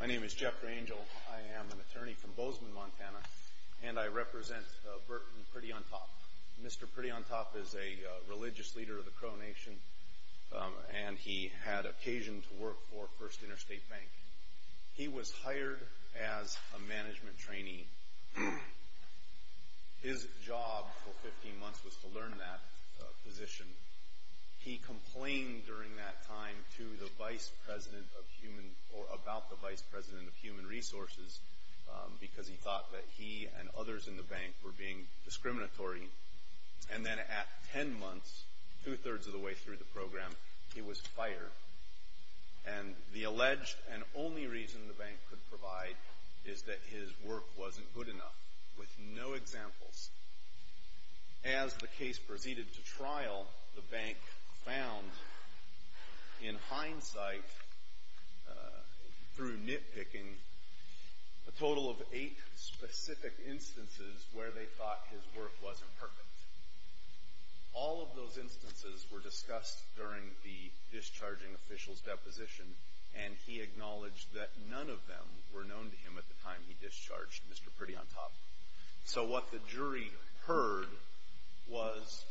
My name is Jeffrey Angel. I am an attorney from Bozeman, Montana, and I represent Burton Pretty On Top. Mr. Pretty On Top is a religious leader of the Crow Nation, and he had occasion to work for First Interstate Bank. He was hired as a management trainee. His job for 15 months was to learn that position. He complained during that time to the vice president of human, or about the vice president of human resources, because he thought that he and others in the bank were being discriminatory. And then at 10 months, two-thirds of the way through the program, he was fired. And the alleged and only reason the bank could provide is that his work wasn't good enough, with no examples. As the case proceeded to trial, the bank found, in hindsight, through nitpicking, a total of eight specific instances where they thought his work wasn't perfect. All of those instances were discussed during the discharging official's deposition, and he acknowledged that none of them were known to him at the time he discharged Mr. Pretty On Top. So what the jury heard was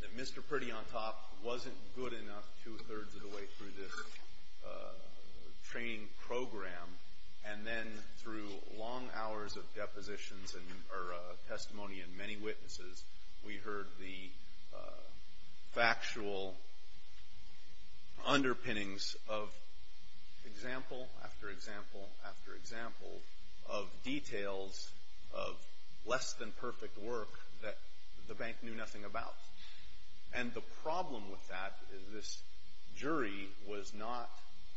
that Mr. Pretty On Top wasn't good enough two-thirds of the way through this training program, and then through long hours of depositions and, or testimony and many witnesses, we heard the factual underpinnings of example after example after example of details of less-than-perfect work that the bank knew nothing about. And the problem with that is this jury was not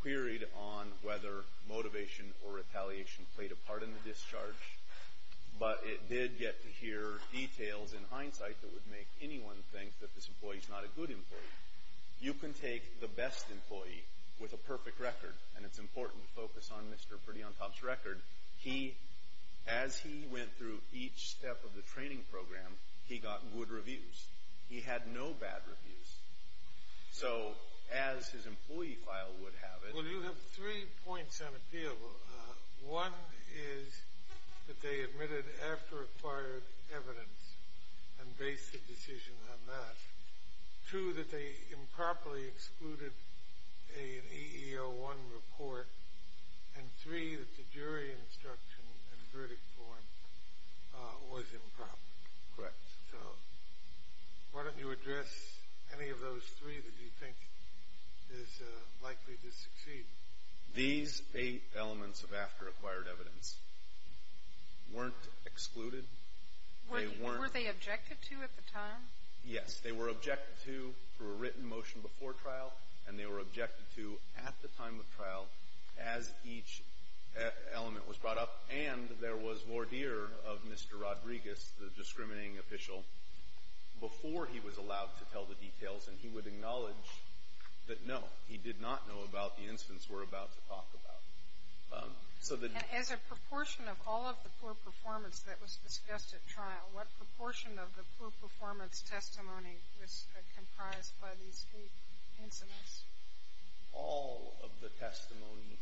queried on whether motivation or retaliation played a part in the discharge, but it did get to hear details, in hindsight, that would make anyone think that this employee's not a good employee. You can take the best employee with a perfect record, and it's important to focus on Mr. Pretty On Top's record. He, as he went through each step of the training program, he got good reviews. So, as his employee file would have it— Well, you have three points on appeal. One is that they admitted after acquired evidence and based the decision on that. Two, that they improperly excluded an EEO-1 report. And three, that the jury instruction and verdict form was improper. Correct. So, why don't you address any of those three that you think is likely to succeed? These eight elements of after acquired evidence weren't excluded. They weren't— Were they objected to at the time? Yes. They were objected to through a written motion before trial, and they were objected to at the time of trial as each element was brought up. And there was voir dire of Mr. Rodriguez, the discriminating official, before he was allowed to tell the details. And he would acknowledge that, no, he did not know about the incidents we're about to talk about. So the— And as a proportion of all of the poor performance that was discussed at trial, what proportion of the poor performance testimony was comprised by these eight incidents? All of the testimony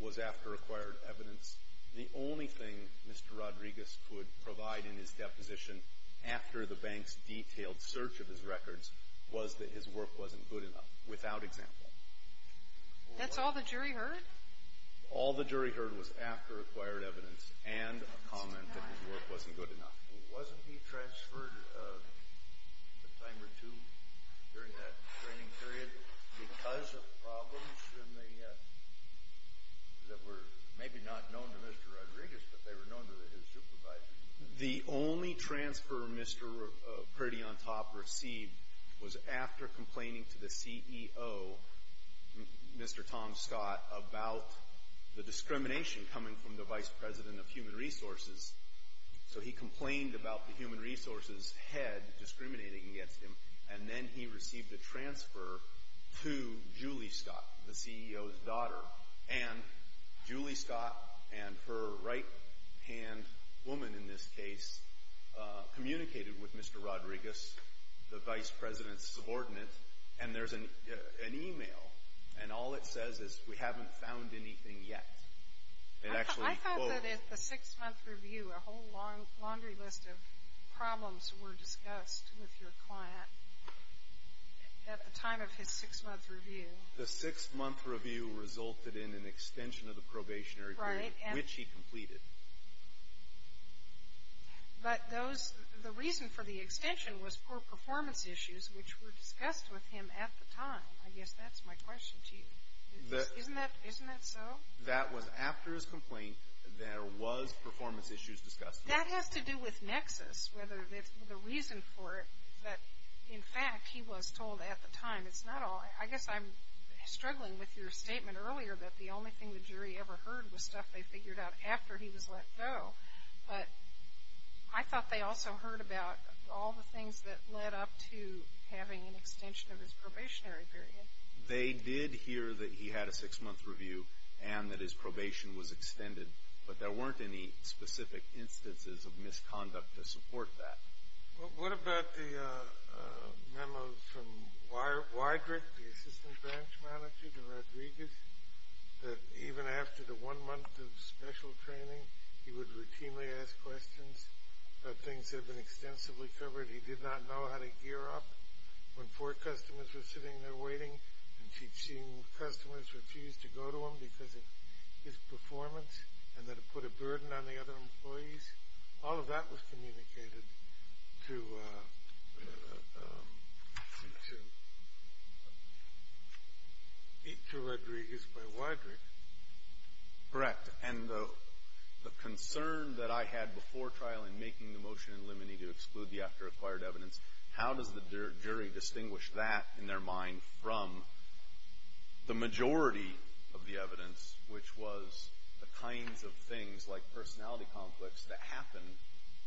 was after acquired evidence. The only thing Mr. Rodriguez could provide in his deposition after the bank's detailed search of his records was that his work wasn't good enough, without example. That's all the jury heard? All the jury heard was after acquired evidence and a comment that his work wasn't good enough. Wasn't he transferred a time or two during that training period because of problems in the— that were maybe not known to Mr. Rodriguez, but they were known to his supervisor? The only transfer Mr. Priddy on top received was after complaining to the CEO, Mr. Tom Scott, about the discrimination coming from the Vice President of Human Resources. So he complained about the Human Resources head discriminating against him, and then he received a transfer to Julie Scott, the CEO's daughter. And Julie Scott and her right-hand woman in this case communicated with Mr. Rodriguez, the Vice President's subordinate, and there's an email. And all it says is, we haven't found anything yet. It actually— I thought that at the six-month review, a whole laundry list of problems were discussed with your client at the time of his six-month review. The six-month review resulted in an extension of the probationary period, which he completed. But those—the reason for the extension was for performance issues, which were discussed with him at the time. I guess that's my question to you. Isn't that—isn't that so? That was after his complaint, there was performance issues discussed with him. That has to do with nexus, whether the reason for it, that in fact he was told at the time. It's not all—I guess I'm struggling with your statement earlier that the only thing the jury ever heard was stuff they figured out after he was let go. But I thought they also heard about all the things that led up to having an extension of his probationary period. They did hear that he had a six-month review and that his probation was extended, but there weren't any specific instances of misconduct to support that. What about the memo from Weigert, the assistant branch manager to Rodriguez, that even after the one month of special training, he would routinely ask questions about things that had been extensively covered. He did not know how to gear up when four customers were sitting there waiting and seeing customers refuse to go to him because of his performance and that it put a burden on the other employees. All of that was communicated to Rodriguez by Weidrich. Correct. And the concern that I had before trial in making the motion in limine to exclude the after-acquired evidence, how does the jury distinguish that in their mind from the majority of the evidence, which was the kinds of things like personality conflicts that happen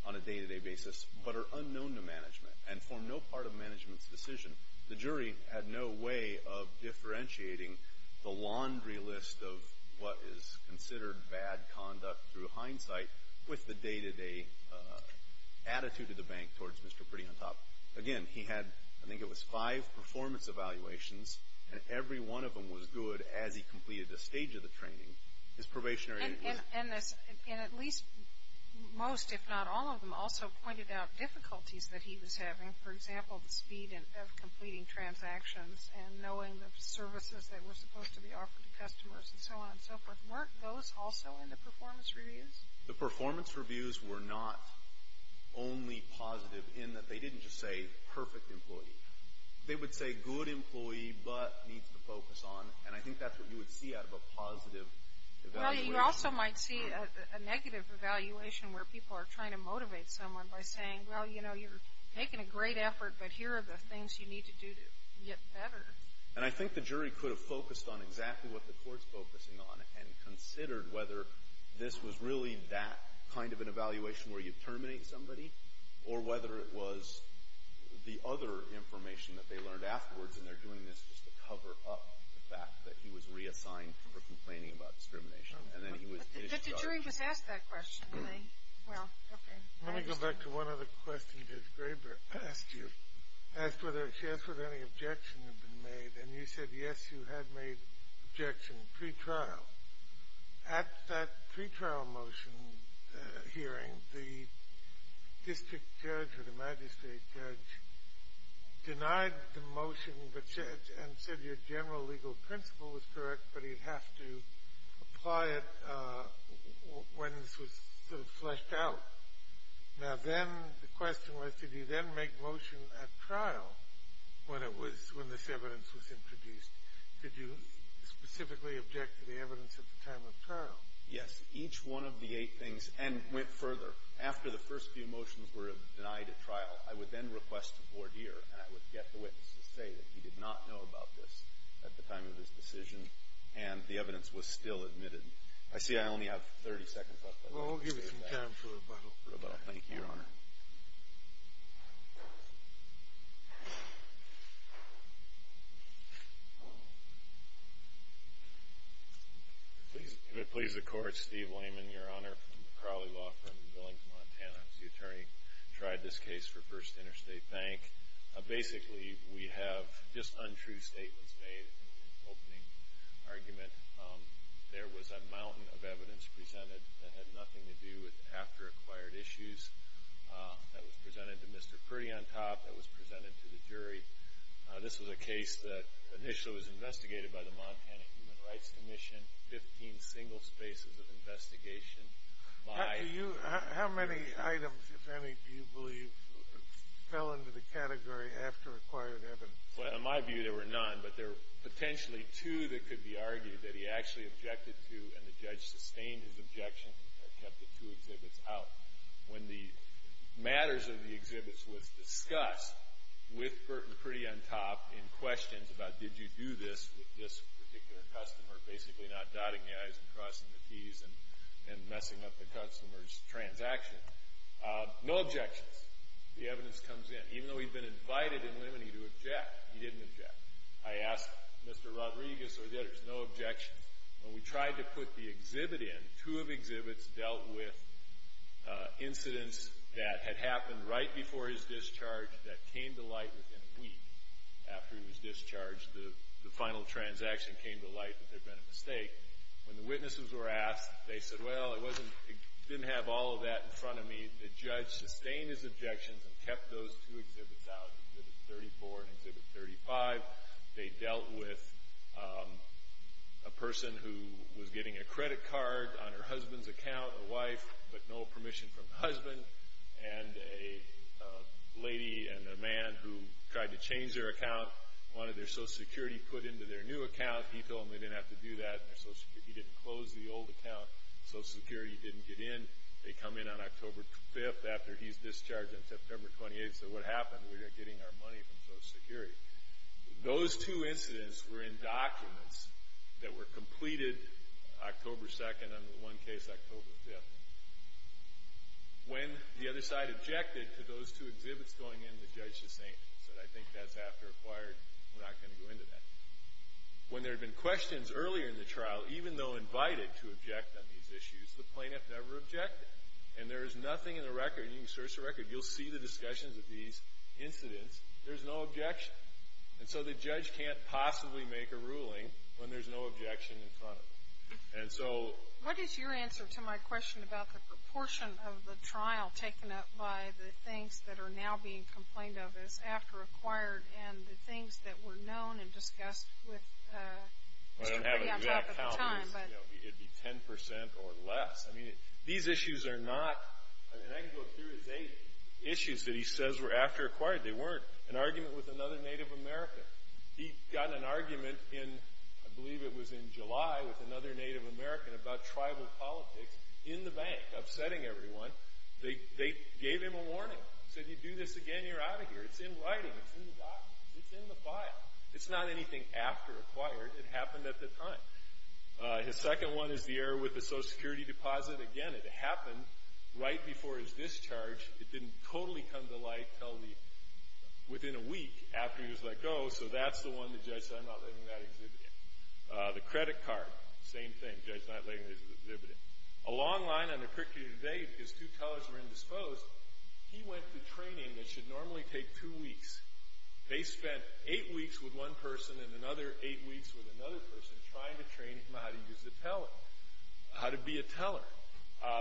on a day-to-day basis but are unknown to management and form no part of management's decision. The jury had no way of differentiating the laundry list of what is considered bad conduct through hindsight with the day-to-day attitude of the bank towards Mr. Pretty on Top. Again, he had, I think it was five performance evaluations, and every one of them was good as he completed the stage of the training. And at least most, if not all of them, also pointed out difficulties that he was having. For example, the speed of completing transactions and knowing the services that were supposed to be offered to customers and so on and so forth. Weren't those also in the performance reviews? The performance reviews were not only positive in that they didn't just say perfect employee. They would say good employee but needs to focus on. And I think that's what you would see out of a positive evaluation. Well, you also might see a negative evaluation where people are trying to motivate someone by saying, well, you know, you're making a great effort, but here are the things you need to do to get better. And I think the jury could have focused on exactly what the court's focusing on and considered whether this was really that kind of an evaluation where you terminate somebody or whether it was the other information that they learned afterwards. And they're doing this just to cover up the fact that he was reassigned for complaining about discrimination. But the jury was asked that question. Let me go back to one other question that Graber asked you. She asked whether any objections had been made, and you said, yes, you had made objections pre-trial. Well, at that pre-trial motion hearing, the district judge or the magistrate judge denied the motion and said your general legal principle was correct, but he'd have to apply it when this was fleshed out. Now, then the question was, did you then make motion at trial when this evidence was introduced? Did you specifically object to the evidence at the time of trial? Yes. Each one of the eight things, and went further. After the first few motions were denied at trial, I would then request a voir dire, and I would get the witness to say that he did not know about this at the time of his decision, and the evidence was still admitted. I see I only have 30 seconds left. Well, I'll give you some time for rebuttal. For rebuttal. Thank you, Your Honor. Please. If it pleases the Court, Steve Lehman, Your Honor, from Crowley Law Firm in Billington, Montana. I was the attorney who tried this case for First Interstate Bank. Basically, we have just untrue statements made in the opening argument. There was a mountain of evidence presented that had nothing to do with after-acquired issues. That was presented to Mr. Purdy on top. That was presented to the jury. This was a case that initially was investigated by the Montana Human Rights Commission, 15 single spaces of investigation. How many items, if any, do you believe fell into the category after-acquired evidence? Well, in my view, there were none, but there were potentially two that could be argued that he actually objected to, and the judge sustained his objection and kept the two exhibits out. When the matters of the exhibits was discussed with Burton Purdy on top in questions about did you do this with this particular customer, basically not dotting the i's and crossing the t's and messing up the customer's transaction, no objections. The evidence comes in. Even though he'd been invited in limine to object, he didn't object. I asked Mr. Rodriguez or the others, no objections. When we tried to put the exhibit in, two of the exhibits dealt with incidents that had happened right before his discharge that came to light within a week after he was discharged, the final transaction came to light that there had been a mistake. When the witnesses were asked, they said, well, it didn't have all of that in front of me. The judge sustained his objections and kept those two exhibits out, Exhibit 34 and Exhibit 35. They dealt with a person who was getting a credit card on her husband's account, a wife, but no permission from her husband, and a lady and a man who tried to change their account, wanted their Social Security put into their new account. He told them they didn't have to do that. He didn't close the old account. Social Security didn't get in. They come in on October 5th after he's discharged on September 28th. So what happened? We're getting our money from Social Security. Those two incidents were in documents that were completed October 2nd. Under one case, October 5th. When the other side objected to those two exhibits going in, the judge sustained. He said, I think that's after acquired. We're not going to go into that. When there had been questions earlier in the trial, even though invited to object on these issues, the plaintiff never objected. And there is nothing in the record. You can search the record. You'll see the discussions of these incidents. There's no objection. And so the judge can't possibly make a ruling when there's no objection in front of him. And so – What is your answer to my question about the proportion of the trial taken up by the things that are now being complained of as after acquired and the things that were known and discussed with – It would be 10% or less. I mean, these issues are not – And I can go through his eight issues that he says were after acquired. They weren't. An argument with another Native American. He got an argument in – I believe it was in July with another Native American about tribal politics in the bank, upsetting everyone. They gave him a warning. Said, you do this again, you're out of here. It's in writing. It's in the documents. It's in the file. It's not anything after acquired. It happened at the time. His second one is the error with the Social Security deposit. Again, it happened right before his discharge. It didn't totally come to light until the – within a week after he was let go. So that's the one the judge said, I'm not letting that exhibit in. The credit card. Same thing. Judge not letting this exhibit in. A long line on the curriculum today because two tellers were indisposed. He went to training that should normally take two weeks. They spent eight weeks with one person and another eight weeks with another person trying to train him on how to use the teller, how to be a teller.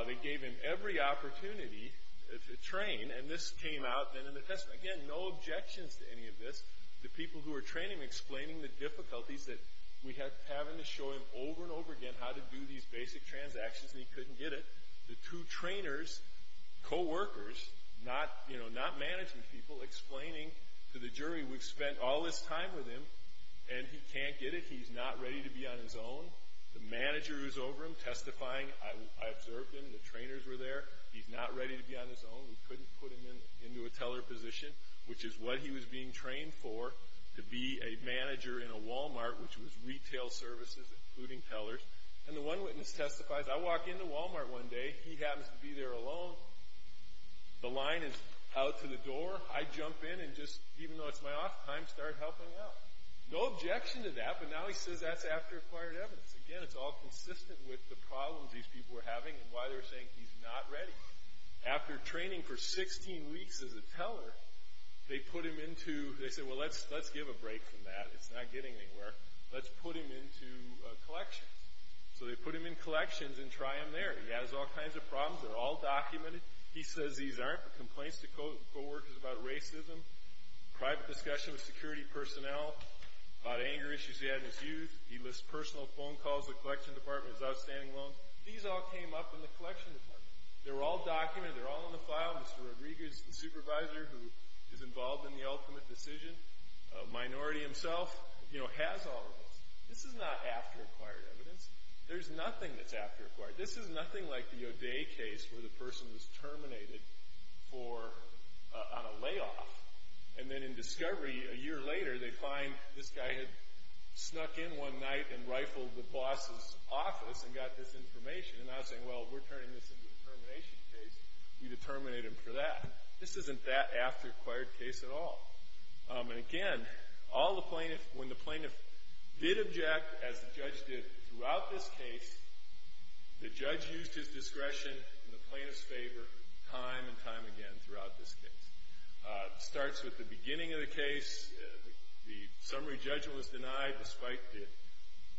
They gave him every opportunity to train, and this came out then in the testimony. Again, no objections to any of this. The people who were training him, explaining the difficulties that we have having to show him over and over again how to do these basic transactions, and he couldn't get it. The two trainers, coworkers, not management people, explaining to the jury we've spent all this time with him and he can't get it. He's not ready to be on his own. The manager who's over him testifying, I observed him. The trainers were there. He's not ready to be on his own. We couldn't put him into a teller position, which is what he was being trained for, to be a manager in a Walmart, which was retail services, including tellers. And the one witness testifies, I walk into Walmart one day. He happens to be there alone. The line is out to the door. I jump in and just, even though it's my off time, start helping out. No objection to that, but now he says that's after acquired evidence. Again, it's all consistent with the problems these people were having and why they were saying he's not ready. After training for 16 weeks as a teller, they put him into, they said, well, let's give a break from that. It's not getting anywhere. Let's put him into collections. So they put him in collections and try him there. He has all kinds of problems. They're all documented. He says these aren't, but complaints to coworkers about racism, private discussion with security personnel, about anger issues he had in his youth. He lists personal phone calls to the collection department, his outstanding loans. These all came up in the collection department. They were all documented. They're all in the file. Mr. Rodriguez, the supervisor who is involved in the ultimate decision, a minority himself, has all of this. This is not after acquired evidence. There's nothing that's after acquired. This is nothing like the O'Day case where the person was terminated on a layoff. And then in discovery, a year later, they find this guy had snuck in one night and rifled the boss's office and got this information. And now they're saying, well, we're turning this into a termination case. We determined him for that. This isn't that after acquired case at all. And, again, when the plaintiff did object, as the judge did throughout this case, the judge used his discretion in the plaintiff's favor time and time again throughout this case. It starts with the beginning of the case. The summary judgment was denied despite the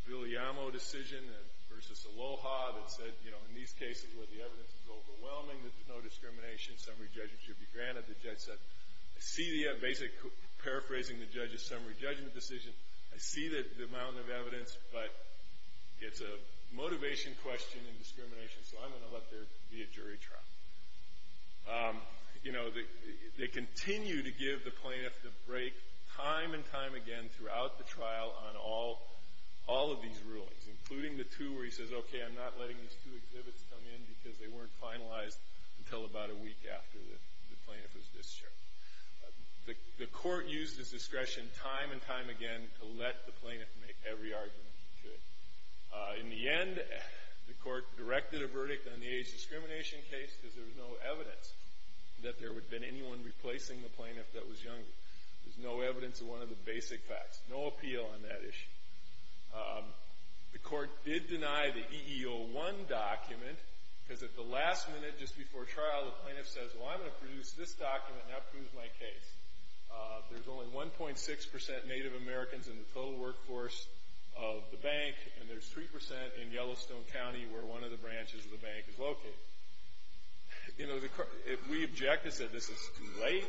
Villamo decision versus Aloha that said, you know, in these cases where the evidence is overwhelming, there's no discrimination, summary judgment should be granted. The judge said, I see the basic paraphrasing the judge's summary judgment decision. I see the amount of evidence, but it's a motivation question and discrimination, so I'm going to let there be a jury trial. You know, they continue to give the plaintiff the break time and time again throughout the trial on all of these rulings, including the two where he says, okay, I'm not letting these two exhibits come in because they weren't finalized until about a week after the plaintiff was discharged. The court used his discretion time and time again to let the plaintiff make every argument he could. In the end, the court directed a verdict on the age discrimination case because there was no evidence that there would have been anyone replacing the plaintiff that was younger. There's no evidence of one of the basic facts, no appeal on that issue. The court did deny the EEO-1 document because at the last minute just before trial, the plaintiff says, well, I'm going to produce this document and that proves my case. There's only 1.6% Native Americans in the total workforce of the bank, and there's 3% in Yellowstone County where one of the branches of the bank is located. You know, if we object and say this is too late,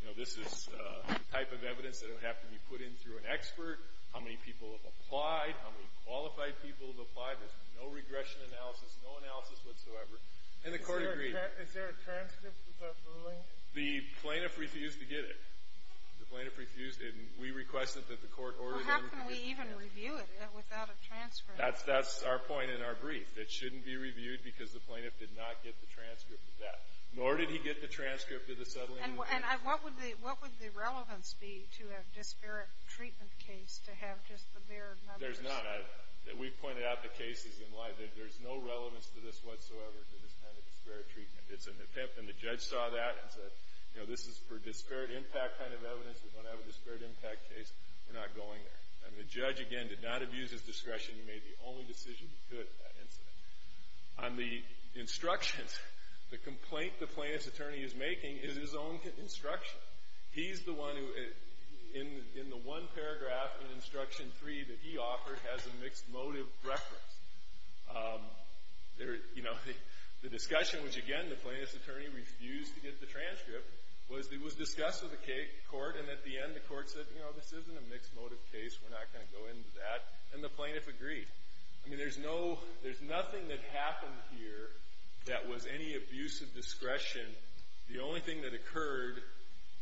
you know, this is the type of evidence that would have to be put in through an expert, how many people have applied, how many qualified people have applied, there's no regression analysis, no analysis whatsoever, and the court agreed. Is there a transcript of that ruling? The plaintiff refused to get it. The plaintiff refused it, and we requested that the court order them to get the transcript. How can we even review it without a transcript? That's our point in our brief. It shouldn't be reviewed because the plaintiff did not get the transcript of that, nor did he get the transcript of the settling of the case. And what would the relevance be to a disparate treatment case to have just the bare numbers? There's none. We've pointed out to cases in life that there's no relevance to this whatsoever, to this kind of disparate treatment. It's an attempt, and the judge saw that and said, you know, this is for disparate impact kind of evidence. We're going to have a disparate impact case. We're not going there. And the judge, again, did not abuse his discretion. He made the only decision he could at that incident. On the instructions, the complaint the plaintiff's attorney is making is his own instruction. He's the one who, in the one paragraph in instruction three that he offered, has a mixed motive reference. You know, the discussion was, again, the plaintiff's attorney refused to get the transcript. It was discussed with the court, and at the end the court said, you know, this isn't a mixed motive case. We're not going to go into that. And the plaintiff agreed. I mean, there's nothing that happened here that was any abuse of discretion. The only thing that occurred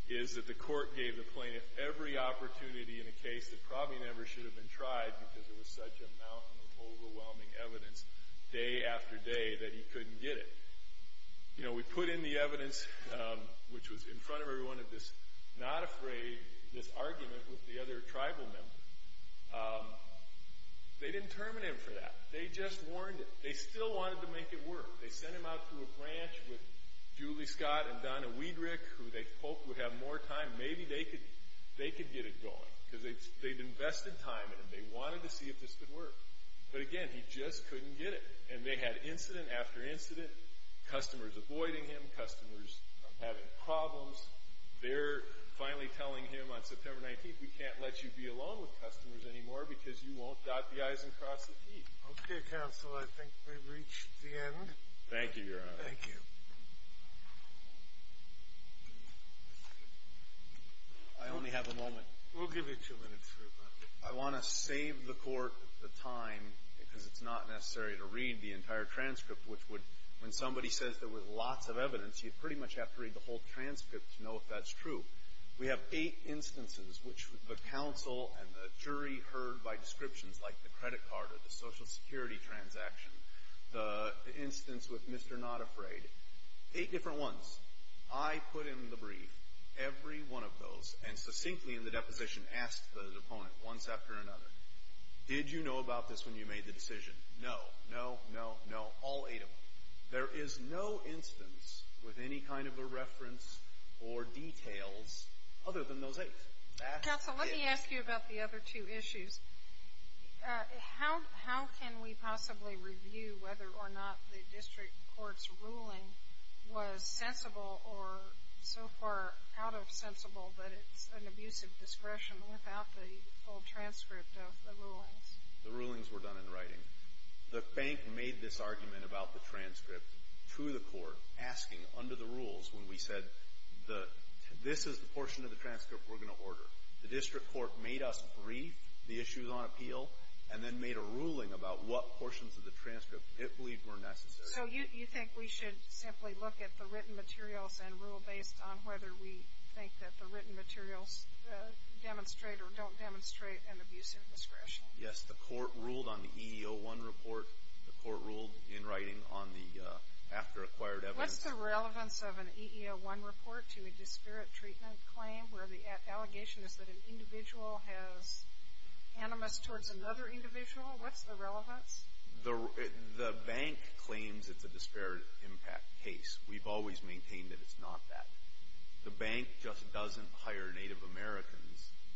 is that the court gave the plaintiff every opportunity in a case that probably never should have been tried because there was such a mountain of overwhelming evidence, day after day, that he couldn't get it. You know, we put in the evidence, which was in front of everyone of this not afraid, this argument with the other tribal member. They didn't terminate him for that. They just warned him. They still wanted to make it work. They sent him out through a branch with Julie Scott and Donna Weedrick, who they hoped would have more time. Maybe they could get it going because they'd invested time in him. They wanted to see if this could work. But, again, he just couldn't get it. And they had incident after incident, customers avoiding him, customers having problems. They're finally telling him on September 19th, we can't let you be alone with customers anymore because you won't dot the i's and cross the t's. Okay, counsel, I think we've reached the end. Thank you, Your Honor. Thank you. I only have a moment. We'll give you two minutes. I want to save the court the time because it's not necessary to read the entire transcript, which would, when somebody says there was lots of evidence, you'd pretty much have to read the whole transcript to know if that's true. We have eight instances which the counsel and the jury heard by descriptions like the credit card or the Social Security transaction, the instance with Mr. Not Afraid. Eight different ones. I put in the brief every one of those and succinctly in the deposition asked the opponent once after another, did you know about this when you made the decision? No, no, no, no. All eight of them. There is no instance with any kind of a reference or details other than those eight. Counsel, let me ask you about the other two issues. How can we possibly review whether or not the district court's ruling was sensible or so far out of sensible that it's an abuse of discretion without the full transcript of the rulings? The rulings were done in writing. The bank made this argument about the transcript to the court asking under the rules when we said this is the portion of the transcript we're going to order. The district court made us brief the issues on appeal and then made a ruling about what portions of the transcript it believed were necessary. So you think we should simply look at the written materials and rule based on whether we think that the written materials demonstrate or don't demonstrate an abuse of discretion? Yes, the court ruled on the EEO-1 report. The court ruled in writing on the after acquired evidence. What's the relevance of an EEO-1 report to a disparate treatment claim where the allegation is that an individual has animus towards another individual? What's the relevance? The bank claims it's a disparate impact case. We've always maintained that it's not that. The bank just doesn't hire Native Americans.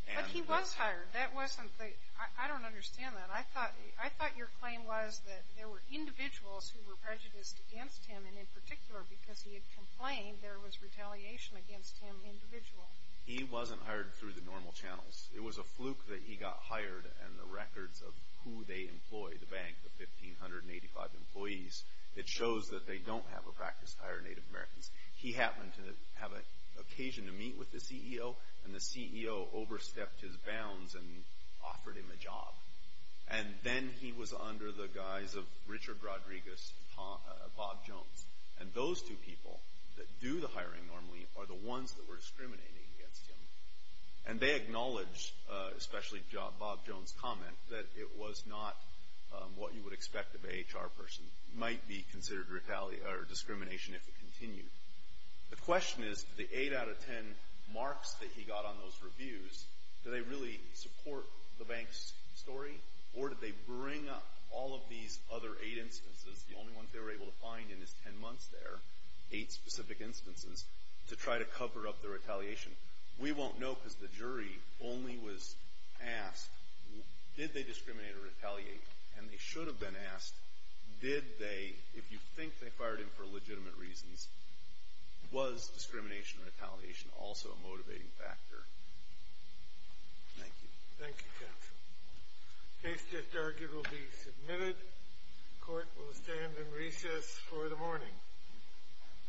But he was hired. I don't understand that. I thought your claim was that there were individuals who were prejudiced against him and in particular because he had complained there was retaliation against him individually. He wasn't hired through the normal channels. It was a fluke that he got hired and the records of who they employ, the bank, the 1,585 employees, it shows that they don't have a practice to hire Native Americans. He happened to have an occasion to meet with the CEO, and the CEO overstepped his bounds and offered him a job. And then he was under the guise of Richard Rodriguez and Bob Jones. And those two people that do the hiring normally are the ones that were discriminating against him. And they acknowledge, especially Bob Jones' comment, that it was not what you would expect of an HR person. It might be considered discrimination if it continued. The question is, the eight out of ten marks that he got on those reviews, do they really support the bank's story, or did they bring up all of these other eight instances, the only ones they were able to find in his ten months there, eight specific instances to try to cover up the retaliation? We won't know because the jury only was asked, did they discriminate or retaliate? And they should have been asked, did they, if you think they fired him for legitimate reasons, was discrimination and retaliation also a motivating factor? Thank you. Thank you, counsel. Case different argument will be submitted. Court will stand in recess for the morning.